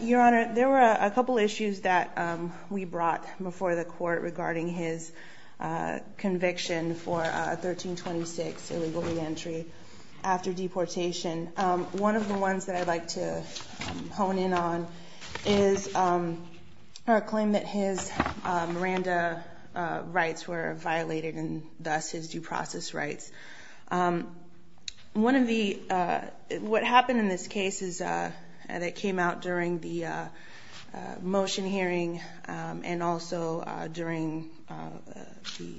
Your Honor, there were a couple of issues that we brought before the court regarding his conviction for 1326, illegal reentry after deportation. One of the ones that I'd like to hone in on is a claim that his Miranda rights were violated and thus his due process rights. One of the, what happened in this case is, and it came out during the motion hearing and also during the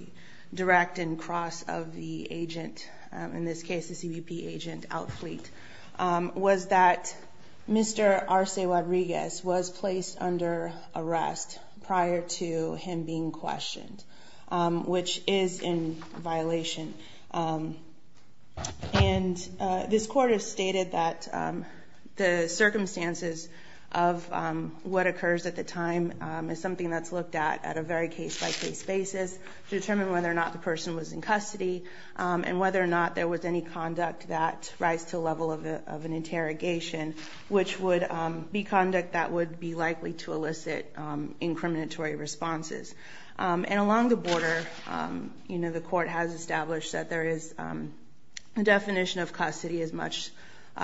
direct and cross of the agent, in this case, the CBP agent outfleet, was that Mr. Arce-Rodriguez was placed under arrest prior to him being questioned, which is in violation. And this court has stated that the circumstances of what occurs at the time is something that's looked at at a very case-by-case basis to determine whether or not the person was in custody and whether or not there was any conduct that rised to the level of an interrogation, which would be conduct that would be likely to elicit incriminatory responses. And along the border, you know, the court has established that there is, the definition of custody is much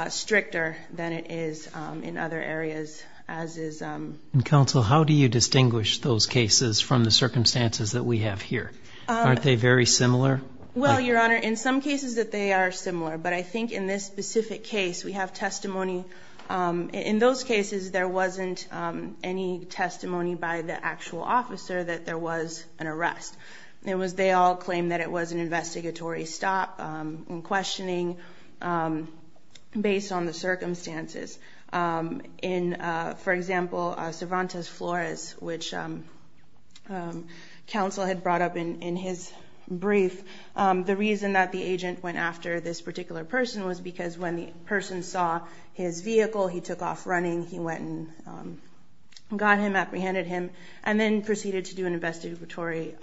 stricter than it is in other areas, as is... And counsel, how do you distinguish those cases from the circumstances that we have here? Aren't they very similar? Well, Your Honor, in some cases that they are similar, but I think in this specific case we have testimony. In those cases, there wasn't any testimony by the actual officer that there was an arrest. It was, they all claim that it was an investigatory stop and Sivantes Flores, which counsel had brought up in his brief. The reason that the agent went after this particular person was because when the person saw his vehicle, he took off running, he went and got him, apprehended him, and then proceeded to do an investigatory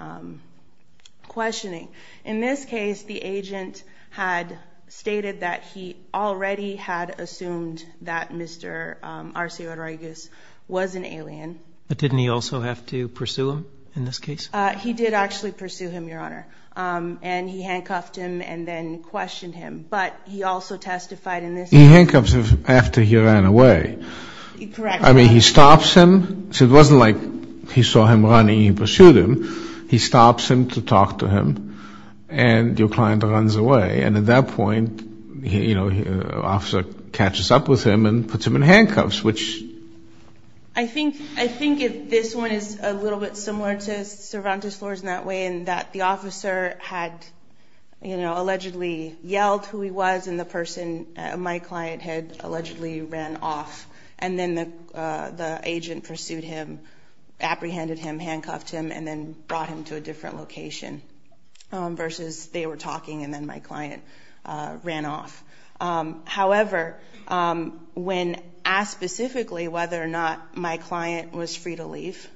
questioning. In this case, the agent had stated that he already had assumed that Mr. Arcio Rodriguez was an alien. But didn't he also have to pursue him in this case? He did actually pursue him, Your Honor. And he handcuffed him and then questioned him. But he also testified in this case... He handcuffs him after he ran away. Correct. I mean, he stops him. So it wasn't like he saw him running, he pursued him. He stops him to talk to him. And your client runs away. And at that point, you know, the officer catches up with him and puts him in handcuffs, which... I think this one is a little bit similar to Sivantes Flores in that way in that the officer had, you know, allegedly yelled who he was and the person, my client, had allegedly ran off. And then the agent pursued him, apprehended him, handcuffed him, and then brought him to a different location versus they were talking and then my client ran off. However, when asked specifically whether or not my client was free to leave,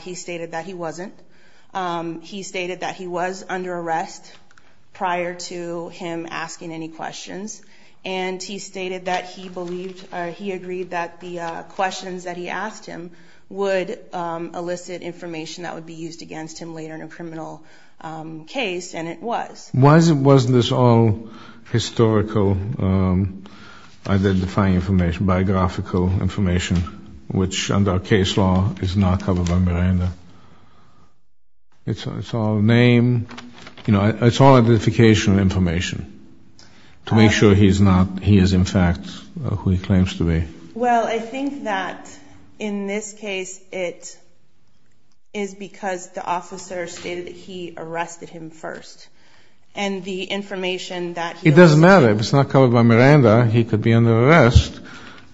he stated that he wasn't. He stated that he was under arrest prior to him asking any questions. And he stated that he agreed that the questions that he asked him would elicit information that would be used against him later in a criminal case, and it was. Wasn't this all historical, identifying information, biographical information, which under case law is not covered by Miranda? It's all name, you know, it's all identification information to make sure he is in fact who he claims to be. Well, I think that in this case it is because the officer stated that he arrested him first and the information that he was... It doesn't matter. If it's not covered by Miranda, he could be under arrest.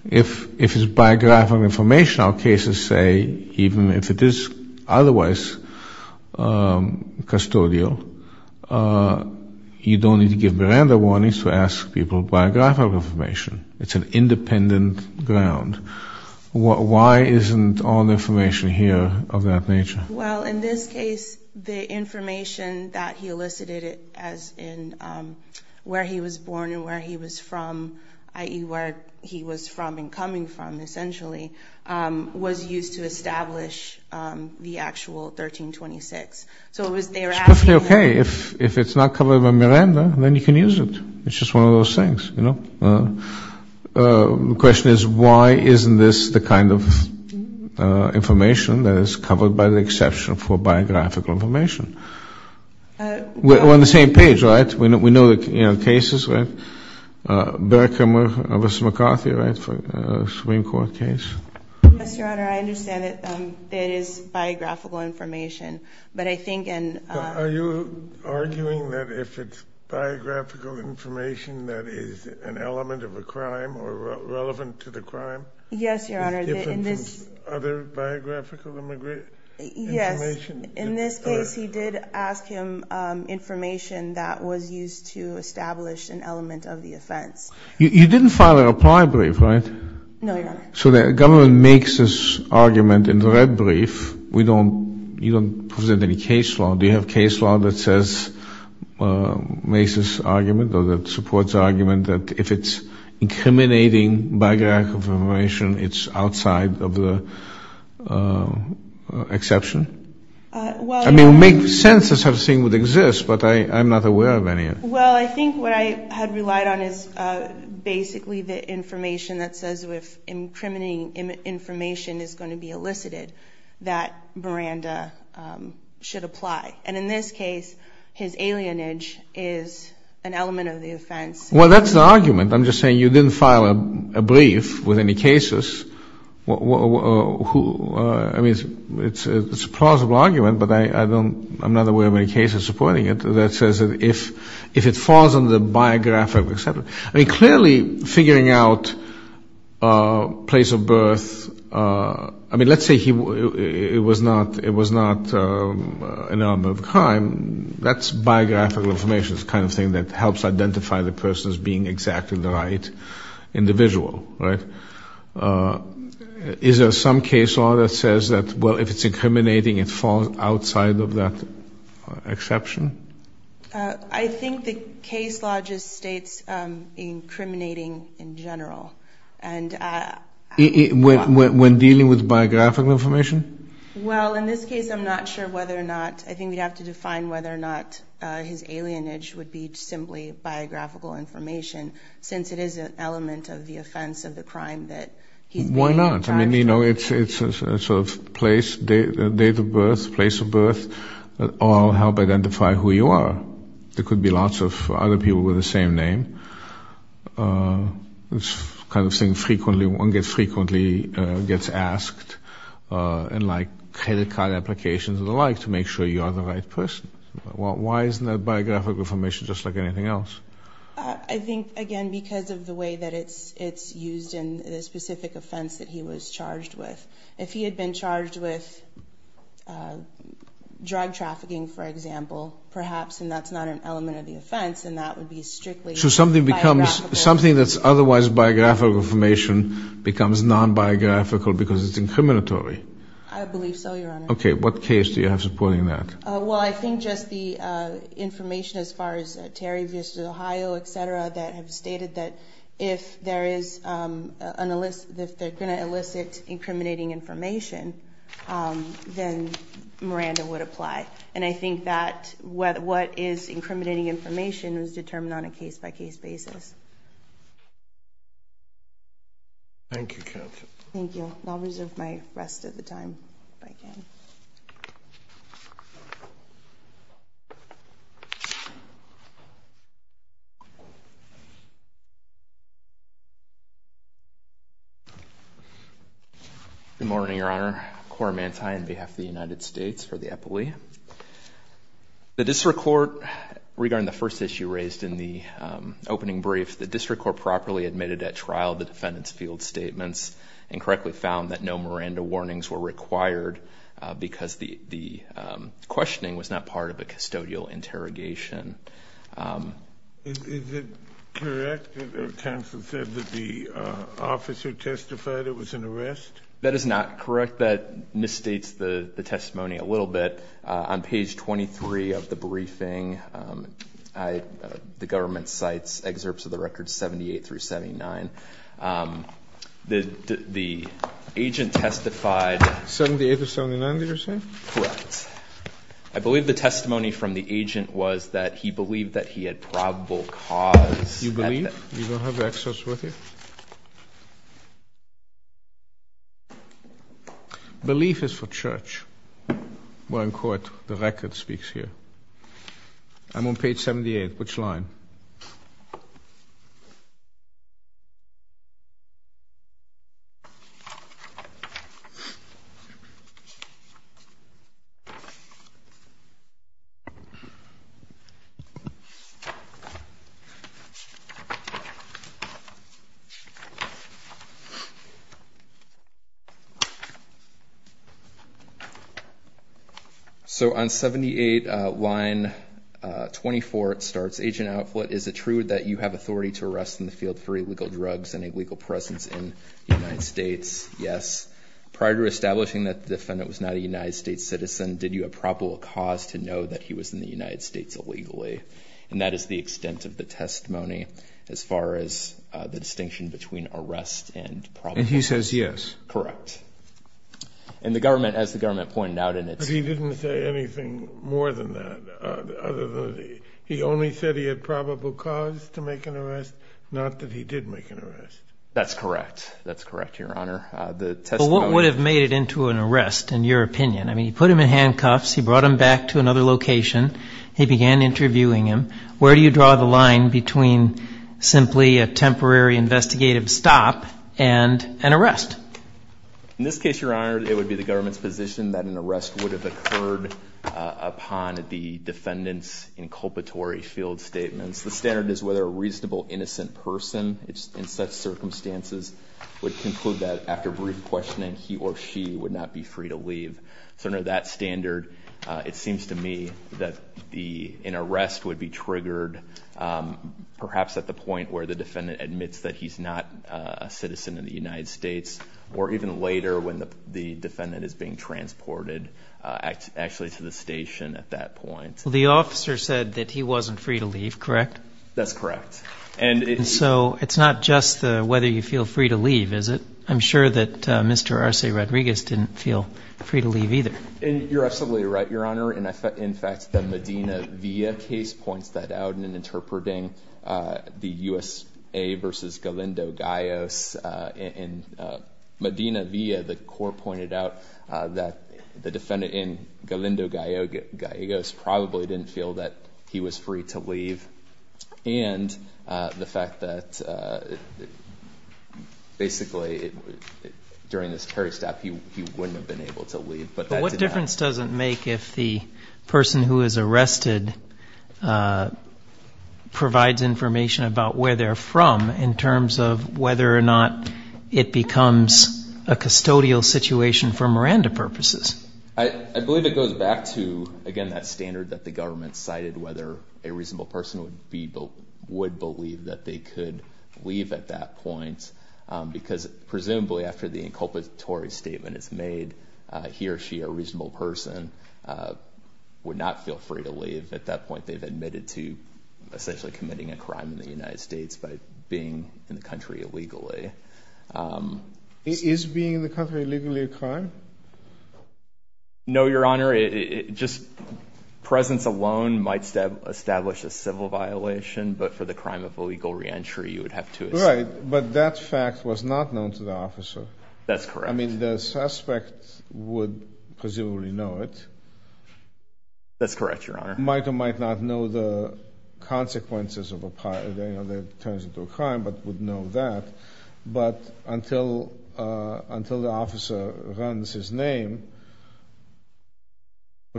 If it's biographical information, our cases say, even if it is otherwise custodial, you don't need to give Miranda warnings to ask people biographical information. It's an independent ground. Why isn't all the information here of that nature? Well, in this case, the information that he elicited as in where he was born and where he was from, i.e. where he was from and coming from, essentially, was used to establish the actual 1326. So it was their asking... It's perfectly okay. If it's not covered by Miranda, then you can use it. It's just one of those things, you know. The question is, why isn't this the kind of information that is covered by the exception for biographical information? We're on the same page, right? We know the cases, right? Berkheimer v. McCarthy, right, for a Supreme Court case? Yes, Your Honor. I understand that it is biographical information, but I think in... Are you arguing that if it's biographical information that is an element of a crime or relevant to the crime... Yes, Your Honor. ...it gives him some other biographical information? Yes. In this case, he did ask him information that was used to establish an element of the offense. You didn't file a reply brief, right? No, Your Honor. So the government makes this argument in the red brief. You don't present any case law. Do you have case law that says, makes this argument or that supports the argument that if it's incriminating biographical information, it's outside of the exception? Well, Your Honor... I mean, it would make sense if such a thing would exist, but I'm not aware of any. Well, I think what I had relied on is basically the information that says if incriminating information is going to be elicited, that Miranda should apply. And in this case, his alienage is an element of the offense. Well, that's the argument. I'm just saying you didn't file a brief with any cases. I mean, it's a plausible argument, but I'm not aware of any cases supporting it that says if it falls under the biographical exception. I mean, clearly, figuring out a place of birth... I mean, let's say it was not an element of a crime. That's biographical information. It's the kind of thing that helps identify the person as being exactly the right individual, right? Is there some case law that says that, well, if it's incriminating, it falls outside of that exception? I think the case law just states incriminating in general. When dealing with biographical information? Well, in this case, I'm not sure whether or not... I think we'd have to define whether or not his alienage would be simply biographical information, since it is an element of the offense of the crime that... Why not? I mean, you know, it's a sort of place, date of birth, place of birth that all help identify who you are. There could be lots of other people with the same name. It's the kind of thing one frequently gets asked in, like, credit card applications and the like to make sure you are the right person. Why isn't that biographical information just like anything else? I think, again, because of the way that it's used in the specific offense that he was charged with. If he had been charged with drug trafficking, for example, perhaps, and that's not an element of the offense, then that would be strictly biographical. So something that's otherwise biographical information becomes non-biographical because it's incriminatory? I believe so, Your Honor. Okay, what case do you have supporting that? Well, I think just the information as far as Terry v. Ohio, etc., that have stated that if they're going to elicit incriminating information, then Miranda would apply. And I think that what is incriminating information is determined on a case-by-case basis. Thank you, counsel. Thank you. I'll reserve my rest of the time if I can. Good morning, Your Honor. Cora Mantai on behalf of the United States for the Epilee. The District Court, regarding the first issue raised in the opening brief, the District Court properly admitted at trial the defendant's field statements and correctly found that no Miranda warnings were required because the questioning was not part of a custodial interrogation. Is it correct that counsel said that the officer testified it was an arrest? That is not correct. That misstates the testimony a little bit. On page 23 of the briefing, the government cites excerpts of the records 78 through 79. The agent testified... 78 through 79, did you say? Correct. I believe the testimony from the agent was that he believed that he had probable cause... You believe? You don't have the excerpts with you? Belief is for church. We're in court. The record speaks here. I'm on page 78. Which line? So on 78, line 24, it starts, Agent Outfoot, is it true that you have authority to arrest in the field for illegal drugs and illegal presence in the United States? Yes. Prior to establishing that the defendant was not a United States citizen, did you have probable cause to know that he was in the United States illegally? And that is the extent of the testimony as far as the distinction between arrest and probable... And he says yes. Correct. And the government, as the government pointed out in its... But he didn't say anything more than that. He only said he had probable cause to make an arrest, not that he did make an arrest. That's correct. That's correct, Your Honor. But what would have made it into an arrest, in your opinion? I mean, you put him in handcuffs, you brought him back to another location, he began interviewing him. Where do you draw the line between simply a temporary investigative stop and an arrest? In this case, Your Honor, it would be the government's position that an arrest would have occurred upon the defendant's inculpatory field statements. The standard is whether a reasonable, innocent person in such circumstances would conclude that after brief questioning he or she would not be free to leave. So under that standard, it seems to me that an arrest would be triggered perhaps at the point where the defendant admits that he's not a citizen in the United States, or even later when the defendant is being transported actually to the station at that point. Well, the officer said that he wasn't free to leave, correct? That's correct. So it's not just whether you feel free to leave, is it? I'm sure that Mr. Arce Rodriguez didn't feel free to leave either. You're absolutely right, Your Honor. In fact, the Medina Villa case points that out in interpreting the USA v. Galindo Gallegos. In Medina Villa, the court pointed out that the defendant in Galindo Gallegos probably didn't feel that he was free to leave. And the fact that basically during this peristep he wouldn't have been able to leave. But what difference does it make if the person who is arrested provides information about where they're from in terms of whether or not it becomes a custodial situation for Miranda purposes? I believe it goes back to, again, that standard that the government cited, whether a reasonable person would believe that they could leave at that point. Because presumably after the inculpatory statement is made, he or she, a reasonable person, would not feel free to leave. At that point they've admitted to essentially committing a crime in the United States by being in the country illegally. Is being in the country illegally a crime? No, Your Honor. Just presence alone might establish a civil violation, but for the crime of illegal reentry you would have to assume. Right, but that fact was not known to the officer. That's correct. I mean, the suspect would presumably know it. That's correct, Your Honor. Might or might not know the consequences of a crime, but would know that. But until the officer runs his name,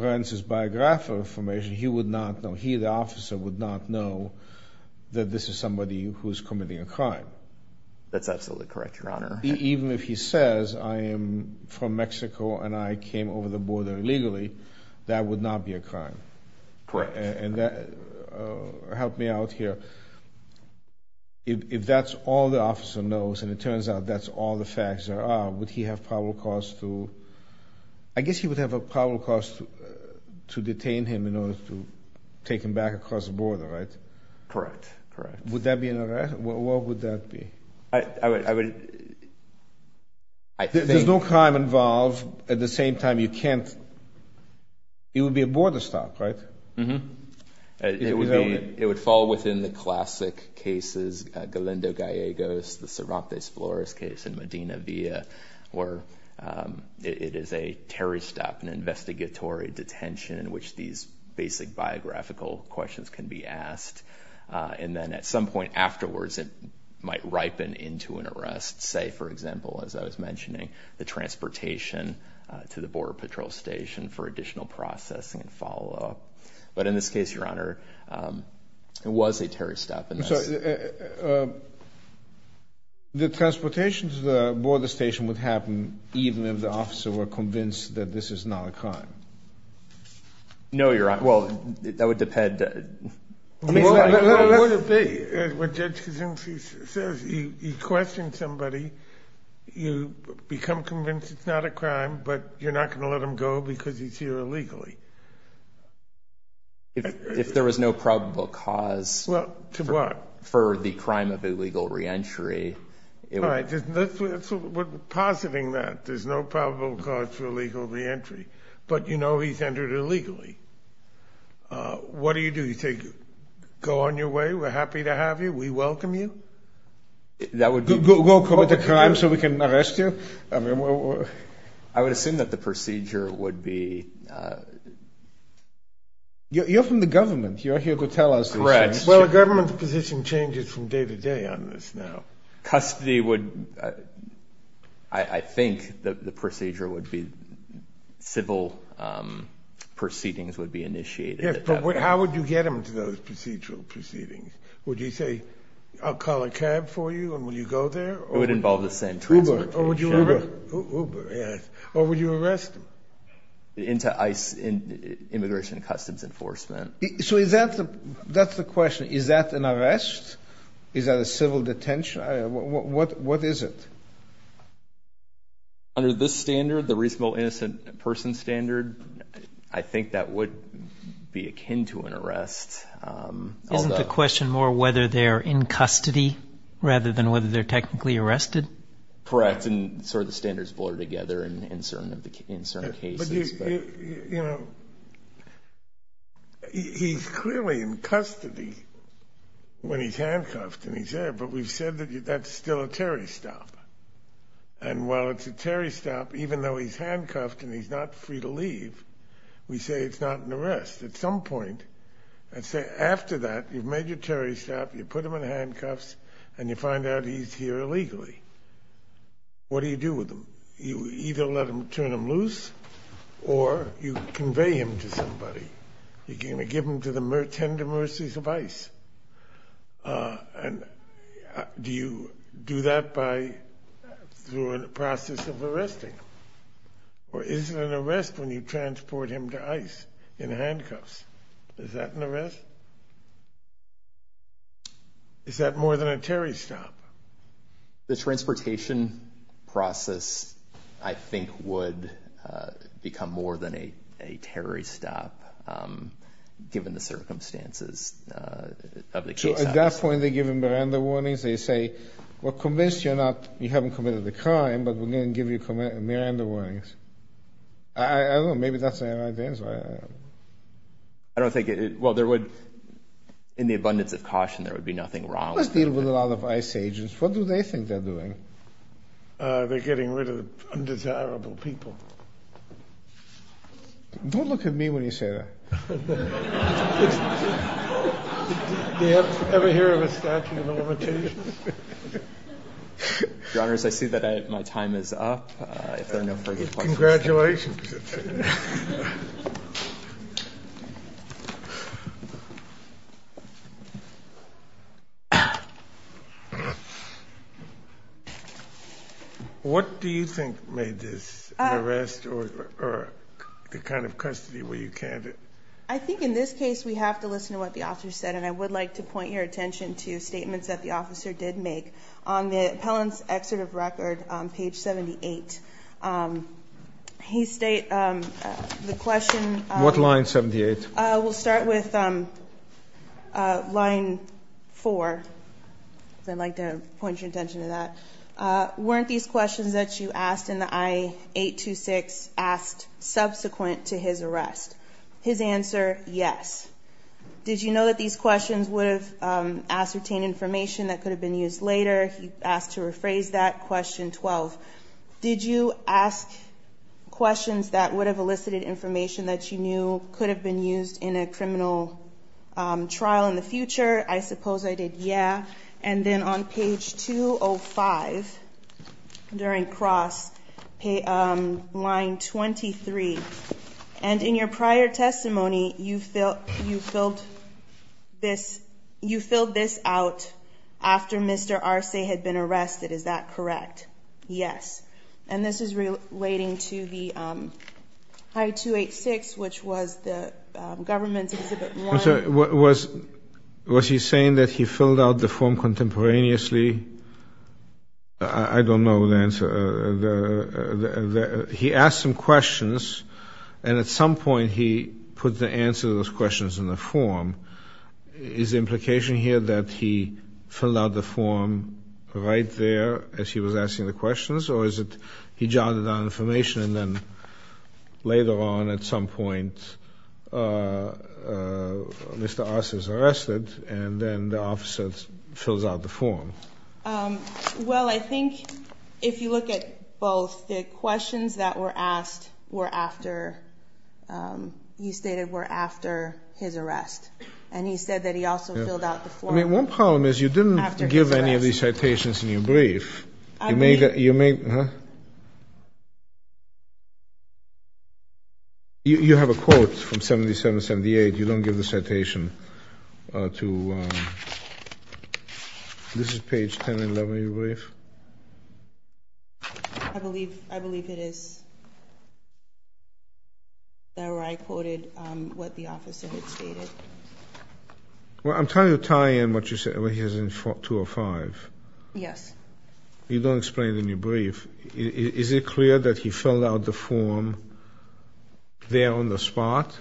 runs his biographical information, he would not know. He, the officer, would not know that this is somebody who is committing a crime. That's absolutely correct, Your Honor. Even if he says, I am from Mexico and I came over the border illegally, that would not be a crime. Correct. Help me out here. If that's all the officer knows and it turns out that's all the facts there are, would he have probable cause to, I guess he would have a probable cause to detain him in order to take him back across the border, right? Correct. Correct. Would that be an arrest? What would that be? There's no crime involved at the same time you can't, it would be a border stop, right? It would fall within the classic cases, Galindo Gallegos, the Cervantes Flores case in Medina Villa, where it is a terry stop, an investigatory detention in which these basic biographical questions can be asked. And then at some point afterwards, it might ripen into an arrest. Say, for example, as I was mentioning, the transportation to the border patrol station for additional processing and so on. But in this case, Your Honor, it was a terry stop. I'm sorry. The transportation to the border station would happen even if the officer were convinced that this is not a crime. No, Your Honor. Well, that would depend. Well, that's the thing. What Judge Kosinski says, you question somebody, you become convinced it's not a crime, but you're not going to let him go because he's here illegally. If there was no probable cause. Well, to what? For the crime of illegal reentry. All right. We're positing that there's no probable cause for illegal reentry, but you know he's entered illegally. What do you do? You say, go on your way, we're happy to have you, we welcome you? That would be. Go commit a crime so we can arrest you? I would assume that the procedure would be. You're from the government. You're here to tell us. Correct. Well, the government's position changes from day to day on this now. Custody would, I think the procedure would be, civil proceedings would be initiated. Yes, but how would you get them to those procedural proceedings? Would you say, I'll call a cab for you and will you go there? It would involve the same. Uber. Uber, yes. Or would you arrest them? Immigration and Customs Enforcement. So that's the question. Is that an arrest? Is that a civil detention? What is it? Under this standard, the reasonable innocent person standard, I think that would be akin to an arrest. Isn't the question more whether they're in custody rather than whether they're technically arrested? Correct, and sort of the standards blur together in certain cases. But, you know, he's clearly in custody when he's handcuffed and he's there, but we've said that that's still a Terry stop. And while it's a Terry stop, even though he's handcuffed and he's not free to leave, we say it's not an arrest. At some point, after that, you've made your Terry stop, you put him in handcuffs, and you find out he's here illegally. What do you do with him? You either turn him loose or you convey him to somebody. You give him to the tender mercies of ICE. Do you do that through a process of arresting him? Or is it an arrest when you transport him to ICE in handcuffs? Is that an arrest? Is that more than a Terry stop? The transportation process, I think, would become more than a Terry stop given the circumstances of the case. So at that point, they give him Miranda warnings. They say, we're convinced you haven't committed a crime, but we're going to give you Miranda warnings. I don't know. Maybe that's the right answer. Well, in the abundance of caution, there would be nothing wrong with that. Let's deal with a lot of ICE agents. What do they think they're doing? They're getting rid of undesirable people. Don't look at me when you say that. Do you ever hear of a statute of limitations? Your Honors, I see that my time is up. Congratulations. What do you think made this an arrest or the kind of custody where you can't? I think in this case, we have to listen to what the officer said, and I would like to point your attention to statements that the officer did make. On the appellant's excerpt of record on page 78, he states the question. What line 78? We'll start with line 4. I'd like to point your attention to that. Weren't these questions that you asked in the I-826 asked subsequent to his arrest? His answer, yes. Did you know that these questions would have ascertained information that could have been used later? He asked to rephrase that, question 12. Did you ask questions that would have elicited information that you knew could have been used in a criminal trial in the future? I suppose I did, yeah. And then on page 205, during cross, line 23. And in your prior testimony, you filled this out after Mr. Arce had been arrested. Is that correct? Yes. And this is relating to the I-286, which was the government's Exhibit 1. Was he saying that he filled out the form contemporaneously? I don't know the answer. He asked some questions, and at some point he put the answer to those questions in the form. Is the implication here that he filled out the form right there as he was asking the questions, or is it he jotted down information and then later on at some point Mr. Arce is arrested and then the officer fills out the form? Well, I think if you look at both, the questions that were asked were after, he stated were after his arrest. And he said that he also filled out the form after his arrest. I mean, one problem is you didn't give any of these citations in your brief. You made, huh? You have a quote from 77-78. You don't give the citation. This is page 10 and 11 of your brief? I believe it is. I quoted what the officer had stated. Well, I'm trying to tie in what you said, what he has in 405. Yes. You don't explain it in your brief. Is it clear that he filled out the form there on the spot,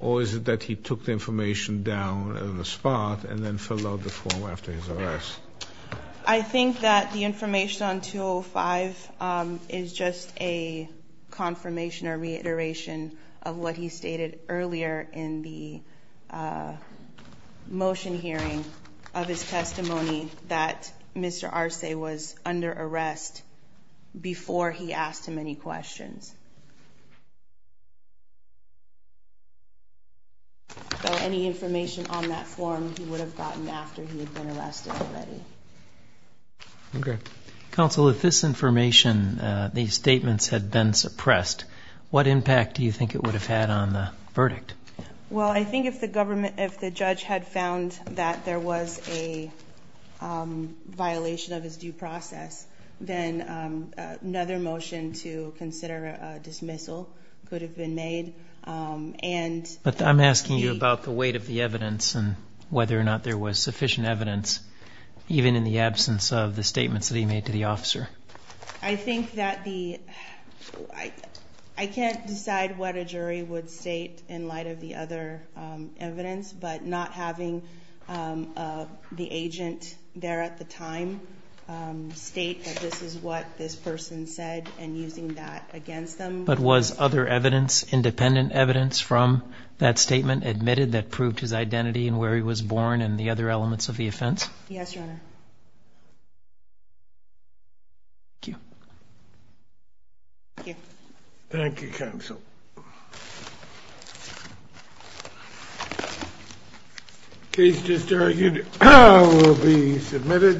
or is it that he took the information down on the spot and then filled out the form after his arrest? I think that the information on 205 is just a confirmation or reiteration of what he stated earlier in the motion hearing of his testimony, that Mr. Arce was under arrest before he asked him any questions. So any information on that form he would have gotten after he had been arrested already. Okay. Counsel, if this information, these statements, had been suppressed, what impact do you think it would have had on the verdict? Well, I think if the judge had found that there was a violation of his due process, then another motion to consider a dismissal could have been made. But I'm asking you about the weight of the evidence and whether or not there was sufficient evidence, even in the absence of the statements that he made to the officer. I can't decide what a jury would state in light of the other evidence, but not having the agent there at the time state that this is what this person said and using that against them. But was other evidence, independent evidence from that statement, admitted that proved his identity and where he was born and the other elements of the offense? Yes, Your Honor. Thank you. Thank you. Thank you, Counsel. The case just argued will be submitted.